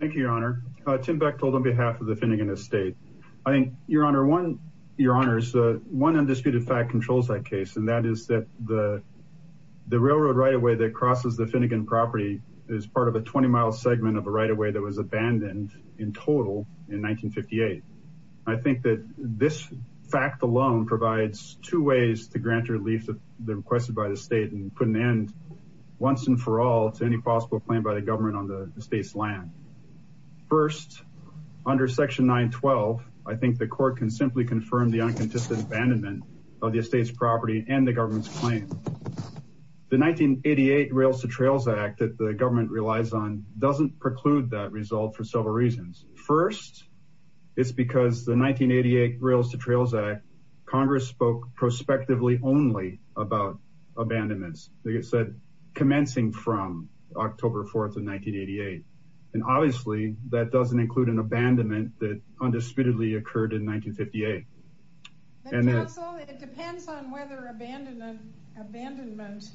Thank you, Your Honor. Tim Beck told on behalf of the Finnigan Estate. I think, Your Honor, one undisputed fact controls that case, and that is that the railroad right-of-way that crosses the Finnigan property is part of a 20-mile segment of a right-of-way that was abandoned in total in 1958. I think that this fact alone provides two ways to grant relief that the requested by the state and put an end once and for all to any possible plan by the government on the estate's land. First, under Section 912, I think the Court can simply confirm the uncontested abandonment of the estate's property and the government's claim. The 1988 Rails-to-Trails Act that the government relies on doesn't preclude that result for several reasons. First, it's because the 1988 Rails-to-Trails Act, Congress spoke prospectively only about abandonments, like I said, commencing from October 4th of 1988, and obviously that doesn't include an abandonment that undisputedly occurred in 1958. It depends on whether abandonment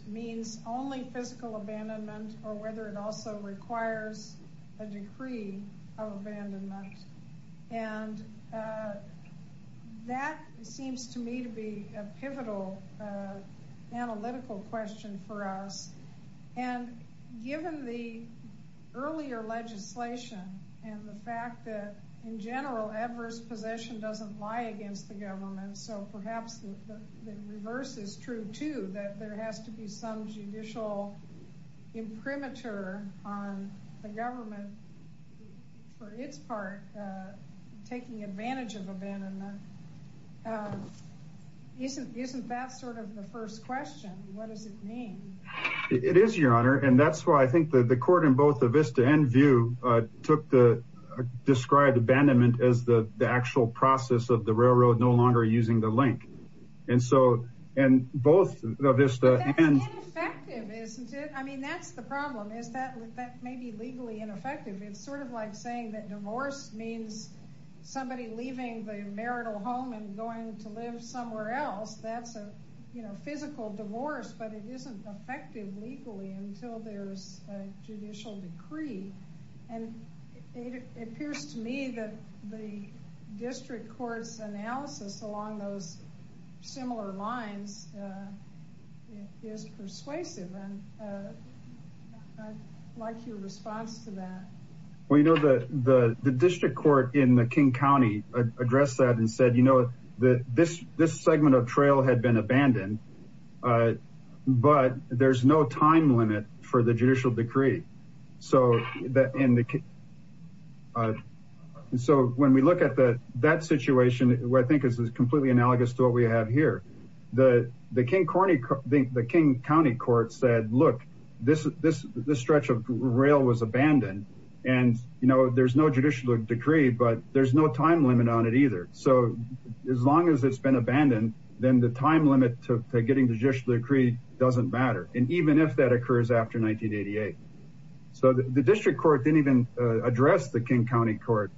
means only physical abandonment or whether it also requires a decree of abandonment, and that seems to me to be a pivotal analytical question for us, and given the earlier legislation and the fact that, in general, adverse possession doesn't lie against the government, so perhaps the reverse is true too, that there has to be some judicial imprimatur on the government for its part, taking advantage of abandonment. Isn't that sort of the first question? What does it mean? It is, Your Honor, and that's why I think that the Court in both the Vista and View took the described abandonment as the actual process of the railroad no longer using the link, and so, and both the Vista and... But that's ineffective, isn't it? I mean, that's the It's sort of like saying that divorce means somebody leaving the marital home and going to live somewhere else. That's a, you know, physical divorce, but it isn't effective legally until there's a judicial decree, and it appears to me that the district court's analysis along those Well, you know, the district court in the King County addressed that and said, you know, this segment of trail had been abandoned, but there's no time limit for the judicial decree, so that in the... So when we look at that situation, where I think this is completely analogous to what we have here, the King County Court said, look, this stretch of rail was abandoned, and, you know, there's no judicial decree, but there's no time limit on it either, so as long as it's been abandoned, then the time limit to getting the judicial decree doesn't matter, and even if that occurs after 1988. So the district court didn't even address the King County Court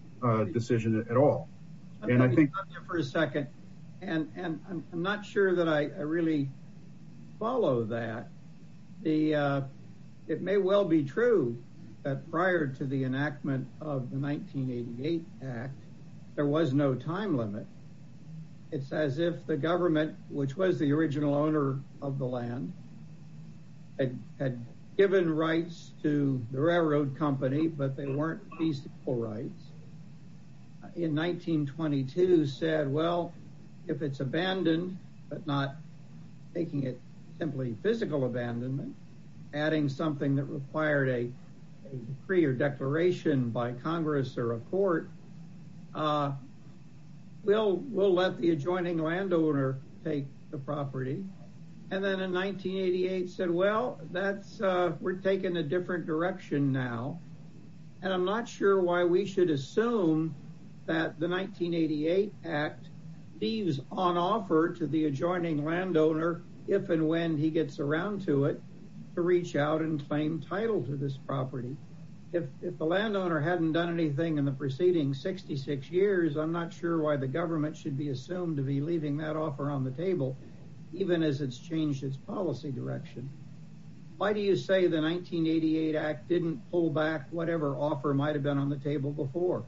decision at all, and I think... Let me stop you for a second, and I'm not sure that I of the 1988 act, there was no time limit. It's as if the government, which was the original owner of the land, had given rights to the railroad company, but they weren't feasible rights. In 1922 said, well, if it's abandoned, but not making it simply physical abandonment, adding something that required a decree or declaration by Congress or a court, we'll let the adjoining landowner take the property, and then in 1988 said, well, that's... We're taking a different direction now, and I'm not sure why we should assume that the 1988 act leaves on offer to the adjoining landowner if and when he gets around to it to reach out and claim title to this property. If the landowner hadn't done anything in the preceding 66 years, I'm not sure why the government should be assumed to be leaving that offer on the table, even as it's changed its policy direction. Why do you say the 1988 act didn't pull back whatever offer might have been on the table before?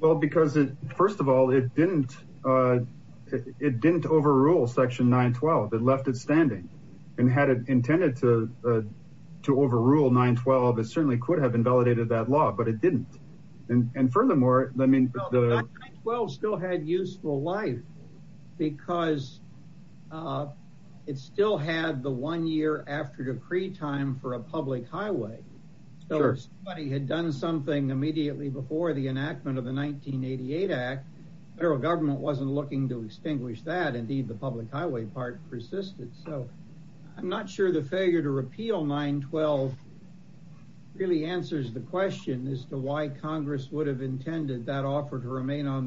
Well, because it, it didn't overrule section 912. It left it standing, and had it intended to overrule 912, it certainly could have invalidated that law, but it didn't. And furthermore, I mean, 912 still had useful life because it still had the one year after decree time for a public highway. So if somebody had done something immediately before the enactment of the 1988 act, federal government wasn't looking to extinguish that. Indeed, the public highway part persisted. So I'm not sure the failure to repeal 912 really answers the question as to why Congress would have intended that offer to remain on the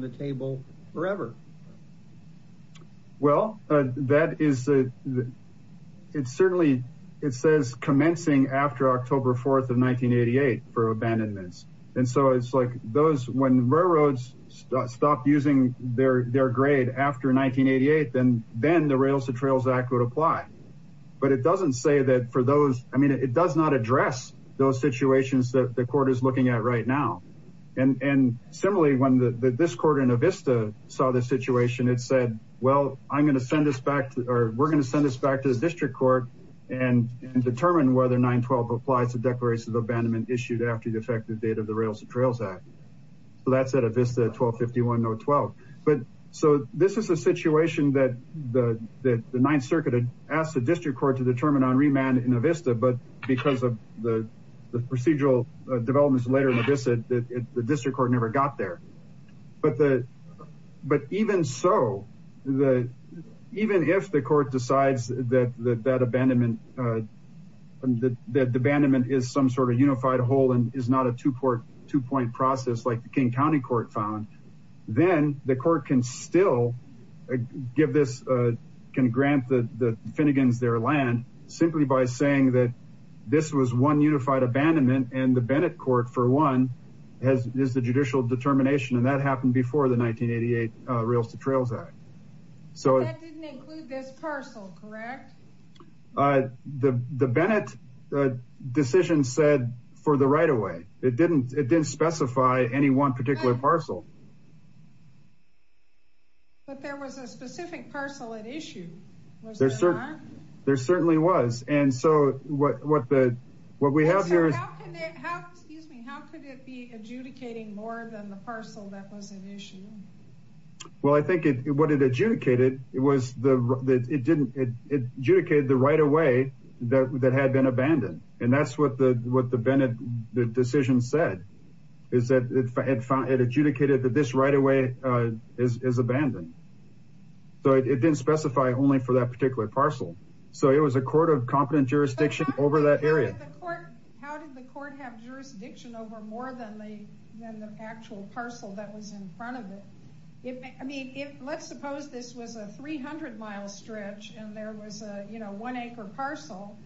4th of 1988 for abandonments. And so it's like those, when railroads stopped using their, their grade after 1988, then, then the rails to trails act would apply. But it doesn't say that for those, I mean, it does not address those situations that the court is looking at right now. And, and similarly, when the, this court in Avista saw the situation, it said, well, I'm going to send this back to, or we're going to send this back to the district court and determine whether 912 applies to declarations of abandonment issued after the effective date of the rails and trails act. So that's at Avista 1251 no 12. But so this is a situation that the, that the ninth circuit asked the district court to determine on remand in Avista, but because of the procedural developments later in Avista, the district court never got there. But the, but even so the, even if the court decides that, that, that abandonment, that the abandonment is some sort of unified whole, and is not a two port two point process like the King County court found, then the court can still give this, can grant the Finnegan's their land simply by saying that this was one unified abandonment. And the Bennett court for one has is the judicial determination. And that happened before the 1988 rails to trails act. So that didn't include this parcel, correct? Uh, the, the Bennett decision said for the right away, it didn't, it didn't specify any one particular parcel, but there was a specific parcel at issue. There certainly was. And so what, what the, what we have here, excuse me, how could it be adjudicating more than the parcel that was an issue? Well, I think it, what it adjudicated, it was the, it didn't, it adjudicated the right away that, that had been abandoned. And that's what the, what the Bennett decision said is that it found it adjudicated that this right away is abandoned. So it didn't specify only for that particular parcel. So it was a court of competent jurisdiction over that area. How did the court have jurisdiction over more than the, than the actual parcel that was in front of it? It may, I mean, if let's suppose this was a 300 mile stretch and there was a, you know, one acre parcel,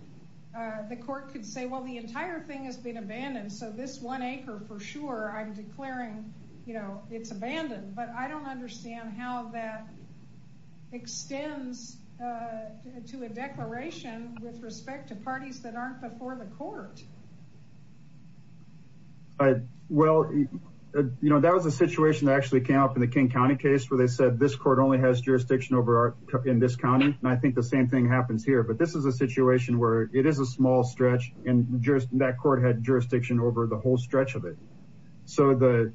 uh, the court could say, well, the entire thing has been abandoned. So this one acre for sure, I'm declaring, you know, it's abandoned, but I don't understand how that stems, uh, to a declaration with respect to parties that aren't before the court. Uh, well, you know, that was a situation that actually came up in the King County case where they said this court only has jurisdiction over our, in this County. And I think the same thing happens here, but this is a situation where it is a small stretch and that court had jurisdiction over the whole stretch of it. So the,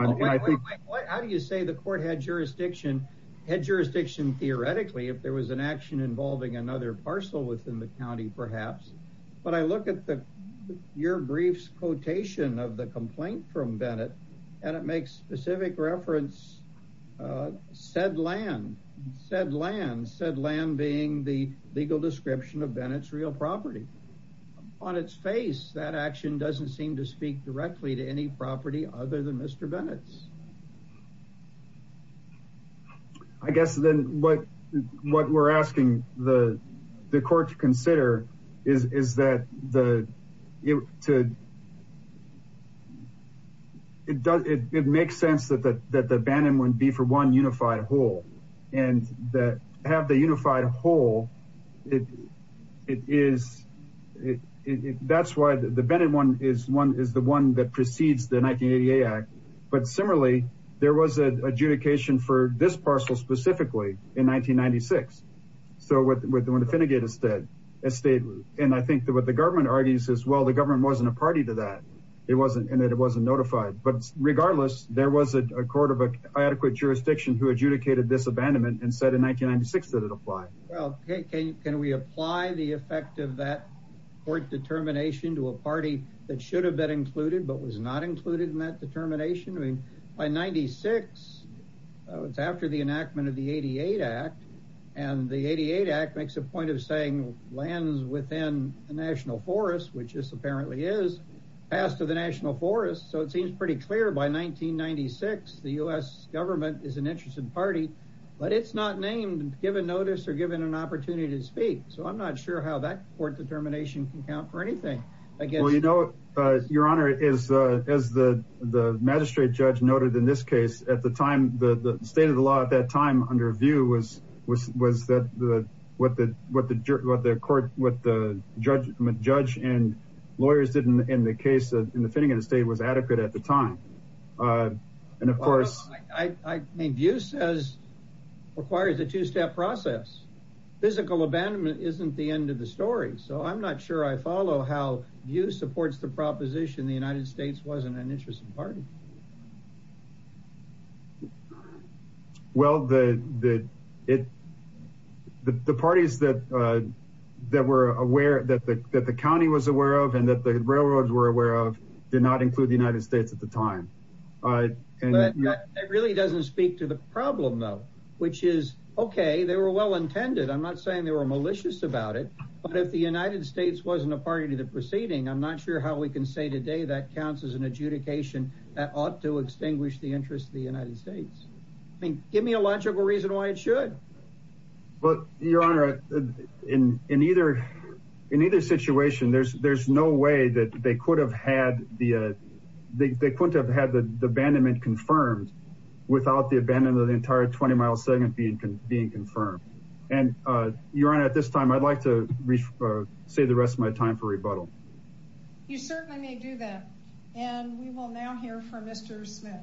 I think, how do you say the court had jurisdiction, had jurisdiction theoretically, if there was an action involving another parcel within the County, perhaps, but I look at the, your briefs quotation of the complaint from Bennett and it makes specific reference, uh, said land, said land, said land being the legal description of Bennett's real property. On its face, that action doesn't seem to speak directly to any property other than Mr. Bennett's. I guess then what, what we're asking the court to consider is, is that the, to, it does, it makes sense that, that, that the abandonment would be for one unified whole and that have the unified whole, it, it is, it, it, that's why the Bennett one is one, is the one that precedes the 1988 act. But similarly, there was an adjudication for this parcel specifically in 1996. So what the, when the Finnegate estate, and I think that what the government argues as well, the government wasn't a party to that. It wasn't, and it wasn't notified, but regardless, there was a court of adequate jurisdiction who adjudicated this abandonment and said in 1996, that it applied. Well, can we apply the effect of that court determination to a party that should have been included, but was not included in that determination? I mean, by 96, it's after the enactment of the 88 act and the 88 act makes a point of saying lands within the national forest, which is apparently is passed to the national forest. So it seems pretty clear by 1996, the U S government is an interested party, but it's not named given notice or given an opportunity to speak. So I'm not sure how that court determination can count for anything. Well, you know, your honor is as the, the magistrate judge noted in this case at the time, the state of the law at that time under view was, was, was that the, what the, what the court, what the judge judge and lawyers didn't in the case in the Finnegate estate was adequate at the time. And of course, I mean, view says requires a two-step process. Physical abandonment isn't the end of the story. So I'm not sure I follow how you supports the proposition. The United States wasn't an interesting party. Well, the, the, it, the parties that, that were aware that the, that the County was aware of and that the railroads were aware of did not include the United States at the time. It really doesn't speak to the problem though, which is okay. They were well-intended. I'm not saying they were malicious about it, but if the United States wasn't a party to the proceeding, I'm not sure how we can say today that counts as an adjudication that ought to extinguish the interest of the United States. I mean, give me a logical reason why it should, but your honor in, in either, in either situation, there's, there's no way that they could have had the, they couldn't have had the abandonment confirmed without the abandonment of the entire 20 mile segment being confirmed. And your honor, at this time, I'd like to say the rest of my time for rebuttal. You certainly may do that. And we will now hear from Mr. Smith.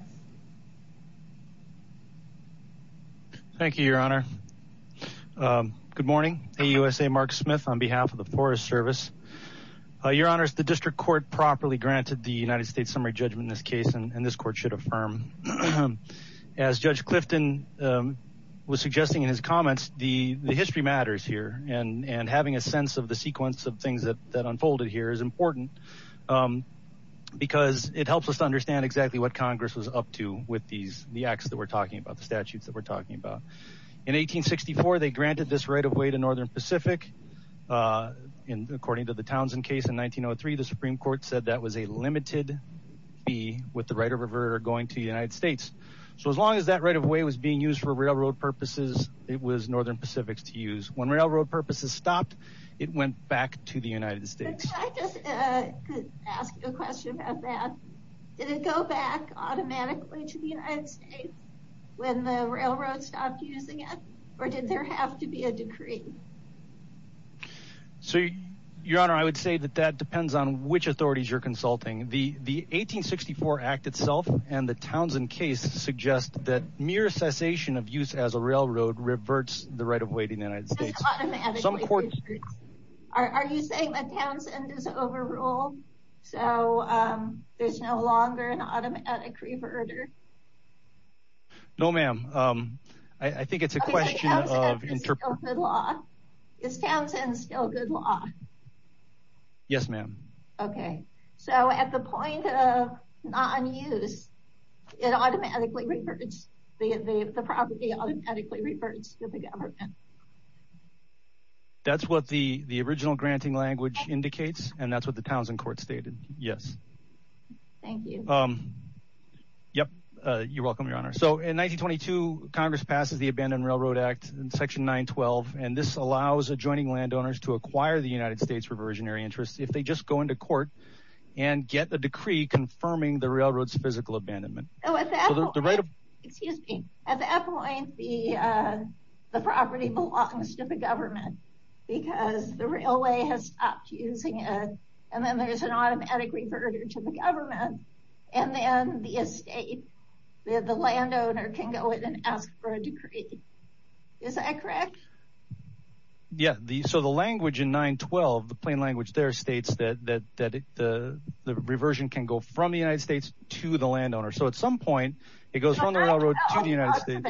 Thank you, your honor. Good morning. AUSA Mark Smith on behalf of the Forest Service. Your honors, the district court properly granted the United States summary judgment in this case. And this court should affirm as judge Clifton was suggesting in his comments, the history matters here and, and having a sense of the sequence of things that, that unfolded here is important because it helps us to understand exactly what Congress was up to with these, the acts that we're talking about, the statutes that we're talking about. In 1864, they granted this right of way to Northern Pacific. And according to the Townsend case in 1903, the Supreme court said that was a limited fee with the right of river going to the United States. So as long as that right of way was being used for railroad purposes, it was Northern Pacific to use. When railroad purposes stopped, it went back to the United States. I just, uh, could ask you a question about that. Did it go back automatically to the United States when the railroad stopped using it or did there have to be a decree? So your honor, I would say that that depends on which authorities you're consulting. The, the 1864 act itself and the Townsend case suggest that mere cessation of use as a railroad reverts the right of way to the United States. Are you saying that Townsend is overruled? So, there's no longer an automatic reverter? No, ma'am. Um, I think it's a question of is Townsend still good law? Yes, ma'am. Okay. So at the point of non-use, it automatically reverts, the property automatically reverts to the government. That's what the, the original granting language indicates. And that's what the Townsend court stated. Yes. Thank you. Um, yep. Uh, you're welcome your honor. So in 1922, Congress passes the Abandoned Railroad Act in section 912. And this allows adjoining landowners to acquire the United States reversionary interest. If they just go into court and get the decree confirming the railroad's physical abandonment. Oh, excuse me. At that point, the, uh, the property belongs to the government because the railway has stopped using it. And then there's an automatic reverter to the government. And then the estate, the landowner can go in and ask for a decree. Is that correct? Yeah, the, so the language in 912, the plain language there states that, that, that the, the reversion can go from the United States to the landowner. So at some point, it goes from the railroad to the United States.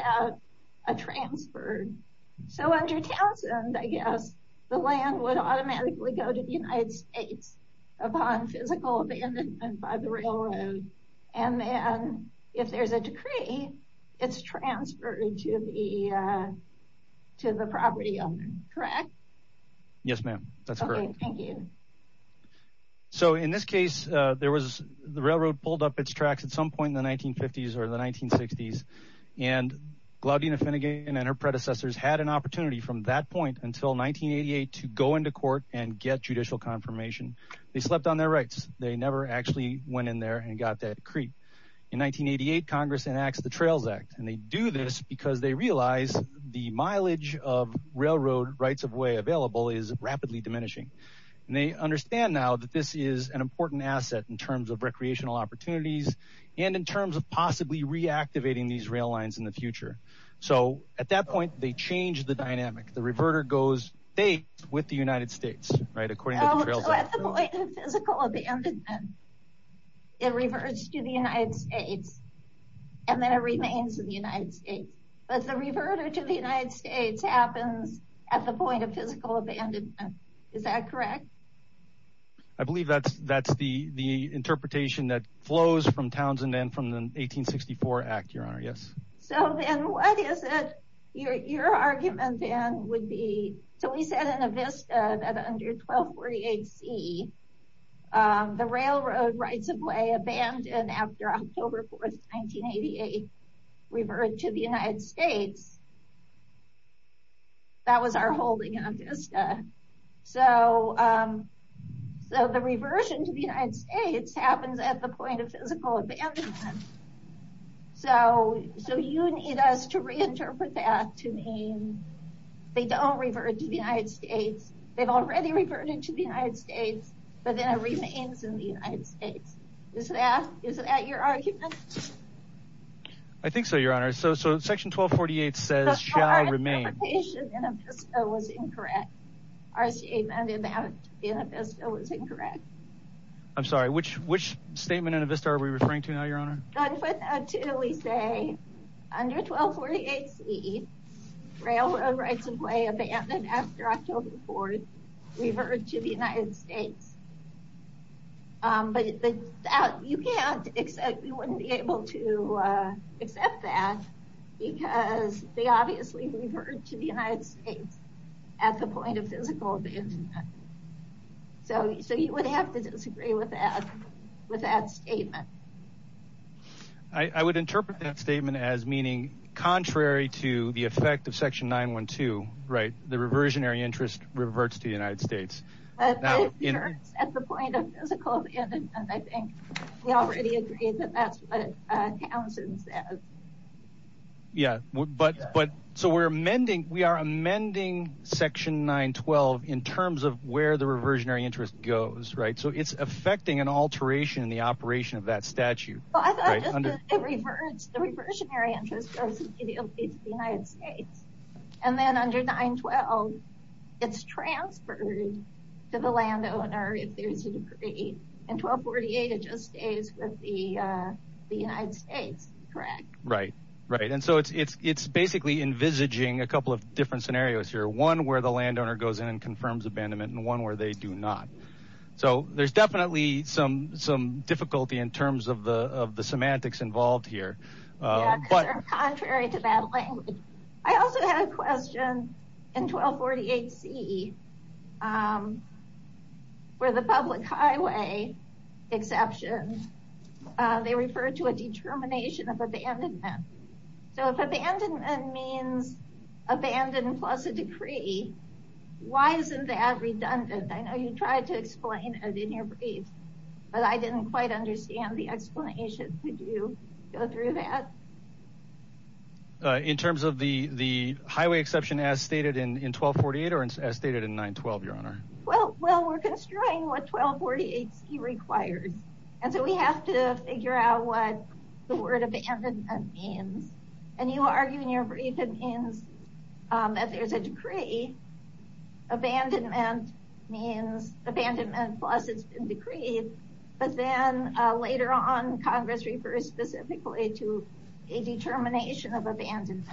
So under Townsend, I guess the land would be taken by the railroad. And then if there's a decree, it's transferred to the, uh, to the property owner, correct? Yes, ma'am. That's correct. Thank you. So in this case, uh, there was the railroad pulled up its tracks at some point in the 1950s or the 1960s and Glaudina Finnegan and her predecessors had an opportunity from that point until 1988 to go into court and get judicial confirmation. They slept on their rights. They never actually went in there and got that decree. In 1988, Congress enacts the Trails Act, and they do this because they realize the mileage of railroad rights of way available is rapidly diminishing. And they understand now that this is an important asset in terms of recreational opportunities and in terms of possibly reactivating these rail lines in the future. So at that point, they changed the dynamic. The reverter goes state with the United States, right? So at the point of physical abandonment, it reverts to the United States, and then it remains in the United States. But the reverter to the United States happens at the point of physical abandonment. Is that correct? I believe that's, that's the, the interpretation that flows from Townsend and from the 1864 Act, Your Honor. Yes. So then what is it, your argument then would be, so we said in Avista that under 1248 C, the railroad rights of way abandoned after October 4th, 1988, reverted to the United States. That was our holding on Avista. So, so the reversion to the United States happens at the point of physical abandonment. So, so you need us to reinterpret that to mean they don't revert to the United States. They've already reverted to the United States, but then it remains in the United States. Is that, is that your argument? I think so, Your Honor. So, so section 1248 says shall remain. Our interpretation in Avista was incorrect. Our statement about in Avista was incorrect. I'm sorry, which, which statement in Avista are we referring to now, Your Honor? Under 1248 C, railroad rights of way abandoned after October 4th, reverted to the United States. But you can't accept, you wouldn't be able to accept that because they obviously reverted to the United States at the point of physical abandonment. So, so you would have to disagree with that, with that statement. I would interpret that statement as meaning contrary to the effect of section 912, right? The reversionary interest reverts to the United States. At the point of physical abandonment, I think we already agreed that that's what Townsend said. Yeah, but, but so we're amending, we are amending section 912 in terms of where the reversionary interest goes, right? So it's affecting an alteration in the operation of that statute. Well, I thought just that it reverts, the reversionary interest goes immediately to the United States. And then under 912, it's transferred to the landowner if there's a decree. In 1248, it just stays with the United States, correct? Right, right. And so it's, it's basically envisaging a couple of different scenarios here. One where the landowner goes in and confirms abandonment and one where they do not. So there's definitely some, some difficulty in terms of the, of the semantics involved here. Yeah, because they're contrary to that language. I also had a question in 1248 C, where the public highway exception, they refer to a determination of abandonment. So if abandonment means abandon plus a decree, why isn't that redundant? I know you tried to explain it in your brief, but I didn't quite understand the explanation. Could you go through that? In terms of the, the highway exception as stated in, in 1248 or as stated in 912, your honor? Well, well, we're constrained what 1248 C requires. And so we have to figure out what the word abandonment means. And you argue in your brief, it means if there's a decree, abandonment means abandonment plus it's been decreed. But then later on, Congress refers specifically to a determination of abandonment.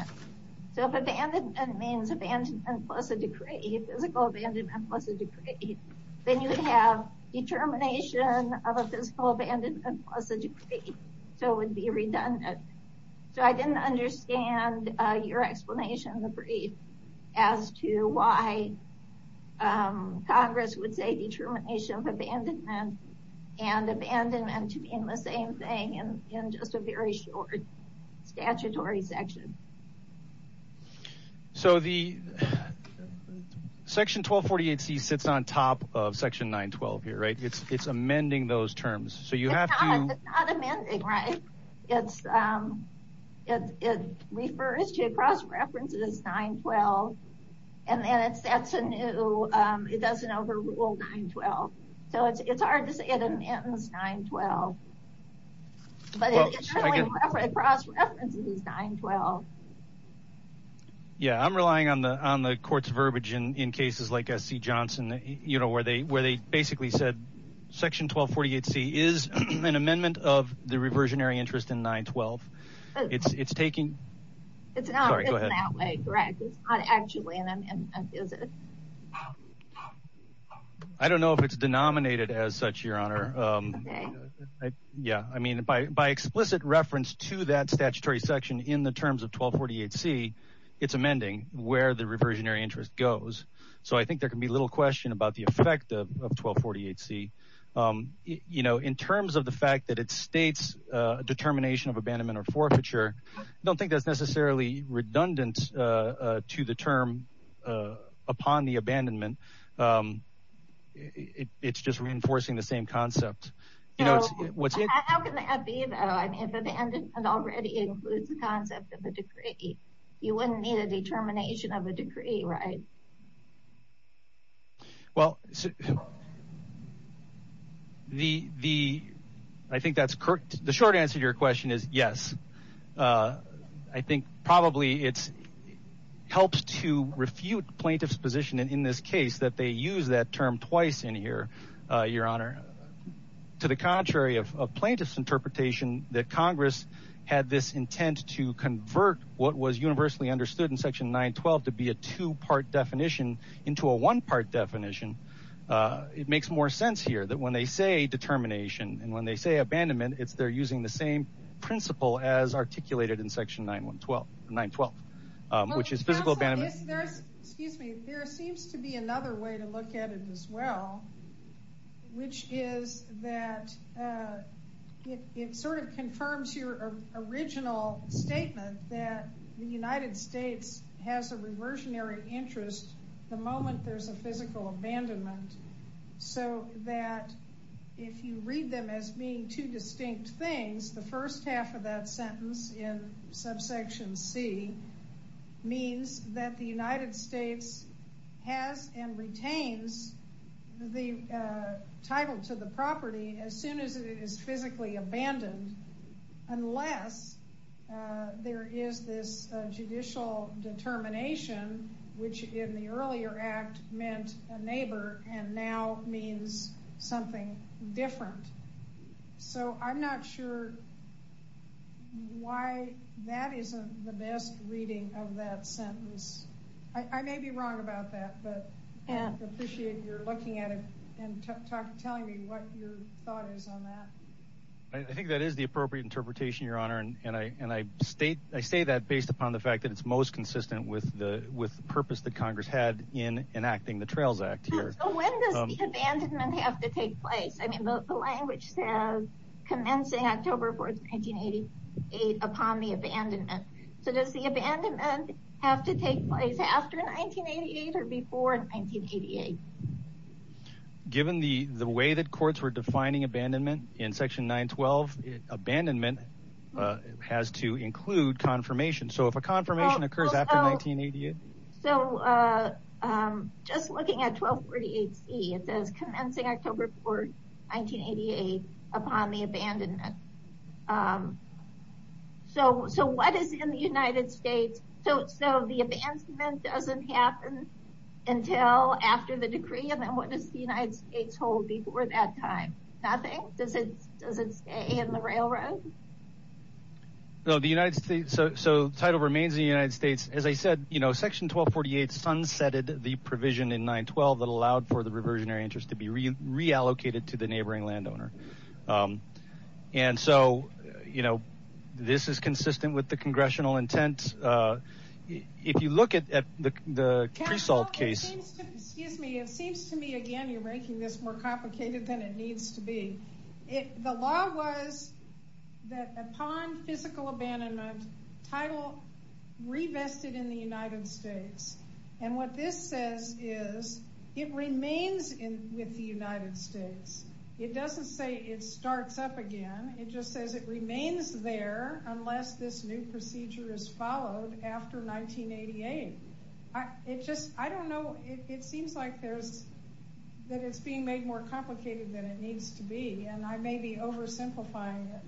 So if abandonment means abandonment plus a decree, physical abandonment plus a decree, then you would have determination of a physical abandonment plus a decree. So it would be redundant. So I didn't understand your explanation in the brief as to why Congress would say determination of abandonment and abandonment to mean the same thing in, in just a very short statutory section. So the section 1248 C sits on top of section 912 here, right? It's, it's amending those terms. So you have to. It's not amending, right? It's, it's, it refers to a cross-references 912. And then it sets a new, it doesn't overrule 912. So it's, it's hard to say it amends 912. But it generally cross-references 912. Yeah. I'm relying on the, on the court's verbiage in, in cases like SC Johnson, you know, where they, where they basically said section 1248 C is an amendment of the reversionary interest in 912. It's, it's taking. It's not, it's not way correct. It's not actually an amendment, is it? I don't know if it's denominated as such your honor. Yeah. I mean, by, by explicit reference to that statutory section in the terms of 1248 C it's amending where the reversionary interest goes. So I think there can be little question about the effect of 1248 C you know, in terms of the fact that it states a determination of abandonment or forfeiture. I don't think that's necessarily redundant to the term upon the abandonment. It's just reinforcing the same concept. What's it? How can that be though? If abandonment already includes the concept of a decree, you wouldn't need a determination of a decree, right? Well, the, the, I think that's correct. The short answer to your question is yes. I think probably it's helps to refute plaintiff's position. And in this case that they use that term twice in here your honor to the contrary of plaintiff's interpretation that Congress had this intent to convert what was universally understood in section 912 to be a two part definition into a one part definition. It makes more sense here that when they say determination and when they say abandonment, it's they're using the same principle as articulated in section 912, 912, which is physical abandonment. Excuse me. There seems to be another way to look at it as well, which is that it sort of confirms your original statement that the United States has a reversionary interest the moment there's a physical abandonment. So that if you read them as being two distinct things, the first half of that sentence in subsection C means that the United States has and retains the title to the property as soon as it is physically abandoned, unless there is this judicial determination which in the earlier act meant a neighbor and now means something different. So I'm not sure why that isn't the best reading of that sentence. I may be wrong about that, but I appreciate you're looking at it and telling me what your thought is on that. I think that is the appropriate interpretation, Your Honor. And I state that based upon the fact that it's most consistent with the purpose that Congress had in enacting the Trails Act here. So when does the abandonment have to take place? I mean, the language says commencing October 4th, 1988 upon the abandonment. So does the abandonment have to take place after 1988 or before 1988? Given the way that courts were defining abandonment in section 912, abandonment has to include confirmation. So if a confirmation occurs after 1988. So just looking at 1248C, it says commencing October 4th, 1988 upon the abandonment. So what is in the United States? So the abandonment doesn't happen until after the decree, and then what does the United States hold before that time? Nothing? Does it stay in the railroad? So the title remains in the United States. As I said, you know, section 1248 sunsetted the provision in 912 that allowed for the reversionary interest to be reallocated to the neighboring landowner. And so, you know, this is consistent with the congressional intent. If you look at the Pre-Salt case. Excuse me, it seems to me again you're making this more complicated than it needs to be. The law was that upon physical abandonment, title revested in the United States. And what this says is it remains with the United States. It doesn't say it starts up again. It just says it remains there unless this new procedure is followed after 1988. It just, I don't know, it seems like there's, that it's being made more complicated than it needs to be. And I may be oversimplifying it.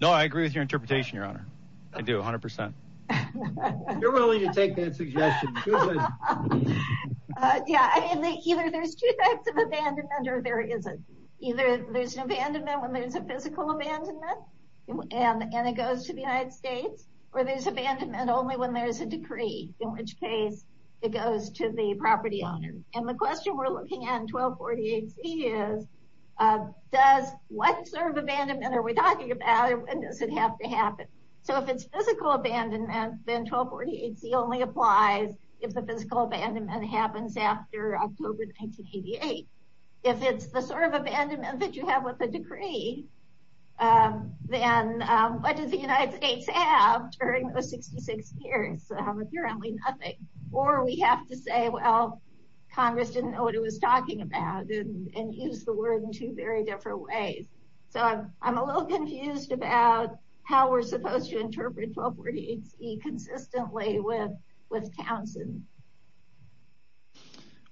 No, I agree with your interpretation, Your Honor. I do, 100 percent. You're willing to take that suggestion. Yeah, I mean either there's two types of abandonment or there isn't. Either there's an abandonment when there's a physical abandonment and it goes to the United States, or there's abandonment only when there's a decree, in which case it goes to the property owner. And the question we're looking at in 1248C is, does, what sort of abandonment are we talking about and does it have to happen? So if it's physical abandonment, then 1248C only applies if the physical abandonment happens after October 1988. If it's the sort of abandonment that you have with the decree, then what does the United States have during those 66 years? Apparently nothing. Or we have to say, well, Congress didn't know what it was talking about and use the word in two very different ways. So I'm a little confused about how we're supposed to interpret 1248C consistently with Townsend.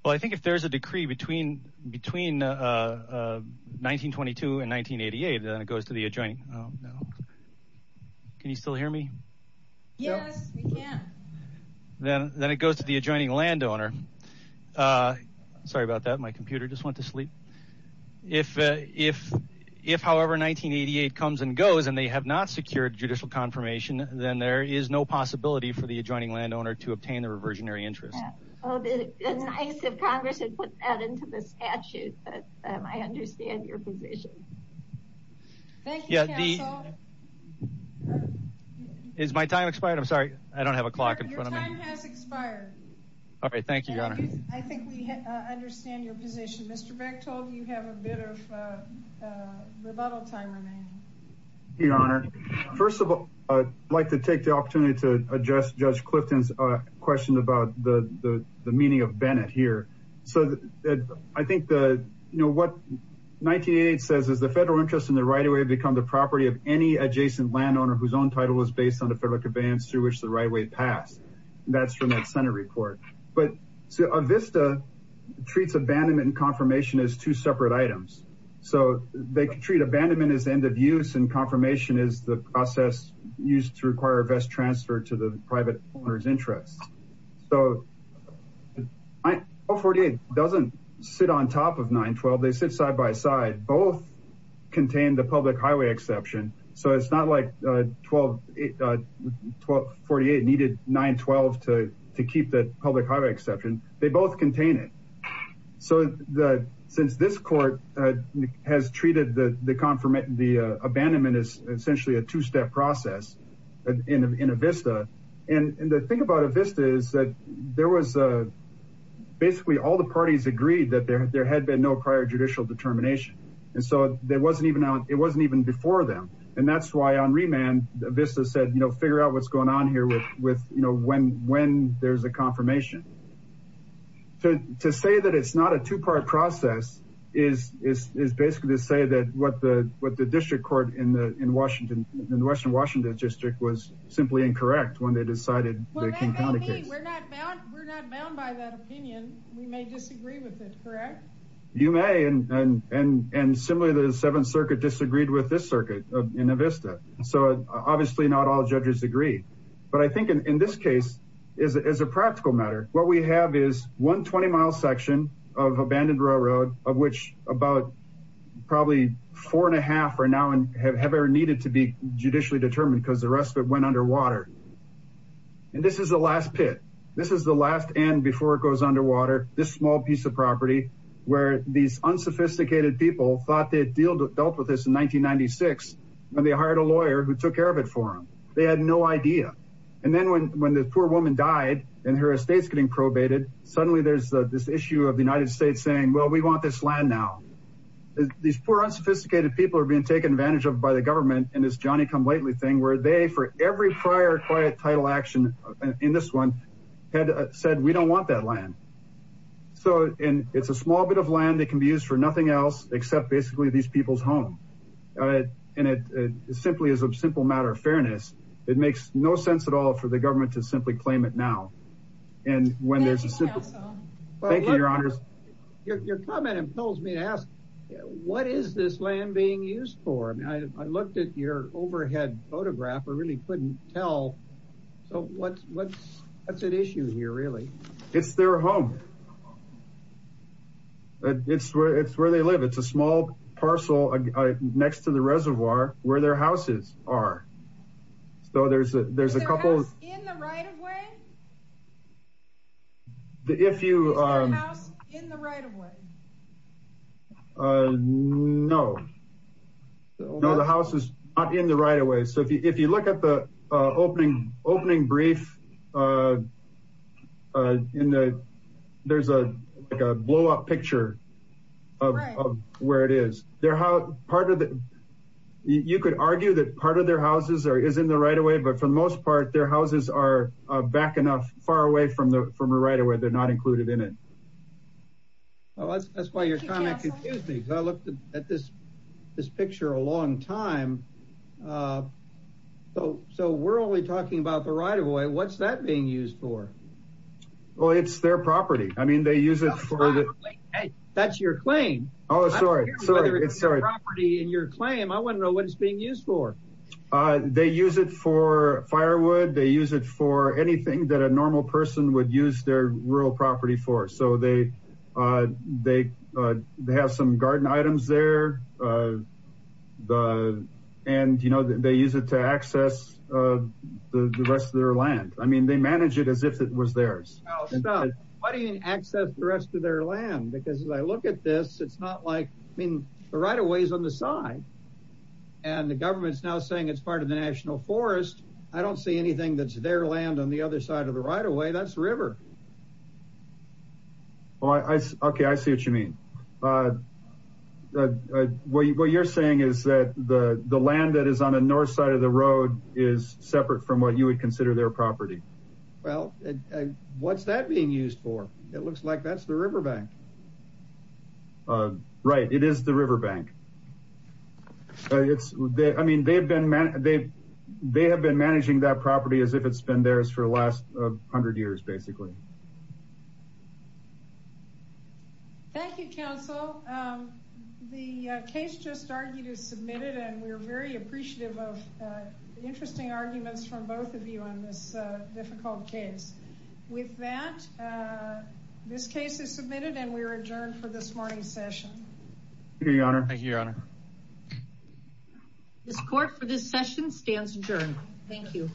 Well, I think if there's a decree between 1922 and 1988, then it goes to the adjoining landowner. Sorry about that, my computer just went to sleep. If, however, 1988 comes and goes, and they have not secured judicial confirmation, then there is no possibility for the adjoining landowner to obtain the reversionary interest. Oh, it's nice if Congress had put that into the statute, but I understand your position. Thank you, counsel. Is my time expired? I'm sorry, I don't have a clock in front of me. Your time has expired. All right, thank you, Your Honor. I think we understand your position. Mr. Bechtold, you have a bit of rebuttal time remaining. Your Honor, first of all, I'd like to take the opportunity to address Judge Clifton's question about the meaning of Bennett here. So I think that, you know, what 1988 says is the federal interest in the right-of-way become the property of any adjacent landowner whose own title is based on the federal conveyance through which the right-of-way pass. That's from that Senate report. But a VISTA treats abandonment and confirmation as two separate items. So they treat abandonment as end of use and confirmation as the process used to require a vest transfer to the private owner's interest. So 948 doesn't sit on top of 912, they sit side by side. Both contain the public highway exception. So it's not like 1248 needed 912 to keep the public highway exception. They both contain it. So since this court has treated the abandonment as essentially a two-step process in a VISTA, and the thing about a VISTA is that there was basically all parties agreed that there had been no prior judicial determination. And so it wasn't even before them. And that's why on remand, VISTA said, you know, figure out what's going on here with, you know, when there's a confirmation. To say that it's not a two-part process is basically to say that what the district court in the western Washington district was simply incorrect when they decided the King County case. Well, that may be. We're not bound by that opinion. We may disagree with it, correct? You may. And similarly, the Seventh Circuit disagreed with this circuit in a VISTA. So obviously not all judges agree. But I think in this case, as a practical matter, what we have is one 20-mile section of abandoned railroad of which about probably four and a half are now and have ever needed to be judicially determined because the And this is the last pit. This is the last end before it goes underwater. This small piece of property where these unsophisticated people thought they had dealt with this in 1996, and they hired a lawyer who took care of it for them. They had no idea. And then when the poor woman died and her estate's getting probated, suddenly there's this issue of the United States saying, well, we want this land now. These poor unsophisticated people are being taken advantage of by the government in this Johnny-come-lately thing where they, for every prior quiet title action in this one, had said, we don't want that land. So it's a small bit of land that can be used for nothing else except basically these people's home. And it simply is a simple matter of fairness. It makes no sense at all for the government to simply claim it now. Thank you, Your comment impels me to ask, what is this land being used for? I looked at your overhead photograph. I really couldn't tell. So what's at issue here, really? It's their home. It's where they live. It's a small parcel next to the reservoir where their houses are. Is their house in the right-of-way? No, the house is not in the right-of-way. So if you look at the opening brief, there's a blow-up picture of where it is. You could argue that part of their houses is in the right-of-way, but for the most part, their houses are back enough far away from the right-of-way. They're not included in it. That's why your comment confused me. I looked at this overhead photograph. It's their property. They use it for anything that a normal person would use their rural property for. They have some garden items there. They use it to access the rest of their land. They manage it as if it was theirs. Why do you access the rest of their land? Because as I look at this, the right-of-way is on the side. The government is now saying it's part of the National Forest. I don't see anything that's their land on the other side of the right-of-way. That's river. I see what you mean. What you're saying is that the land that is on the north side of the road is separate from what you would consider their property. What's that being used for? It looks like that's the riverbank. Right. It is the riverbank. They have been managing that property as if it's been theirs for the last hundred years, basically. Thank you, counsel. The case just argued is submitted. We're very appreciative of the interesting arguments from both of you on this difficult case. With that, this case is submitted and we're adjourned for this morning's session. Thank you, your honor. Thank you, your honor. This court for this session stands adjourned. Thank you.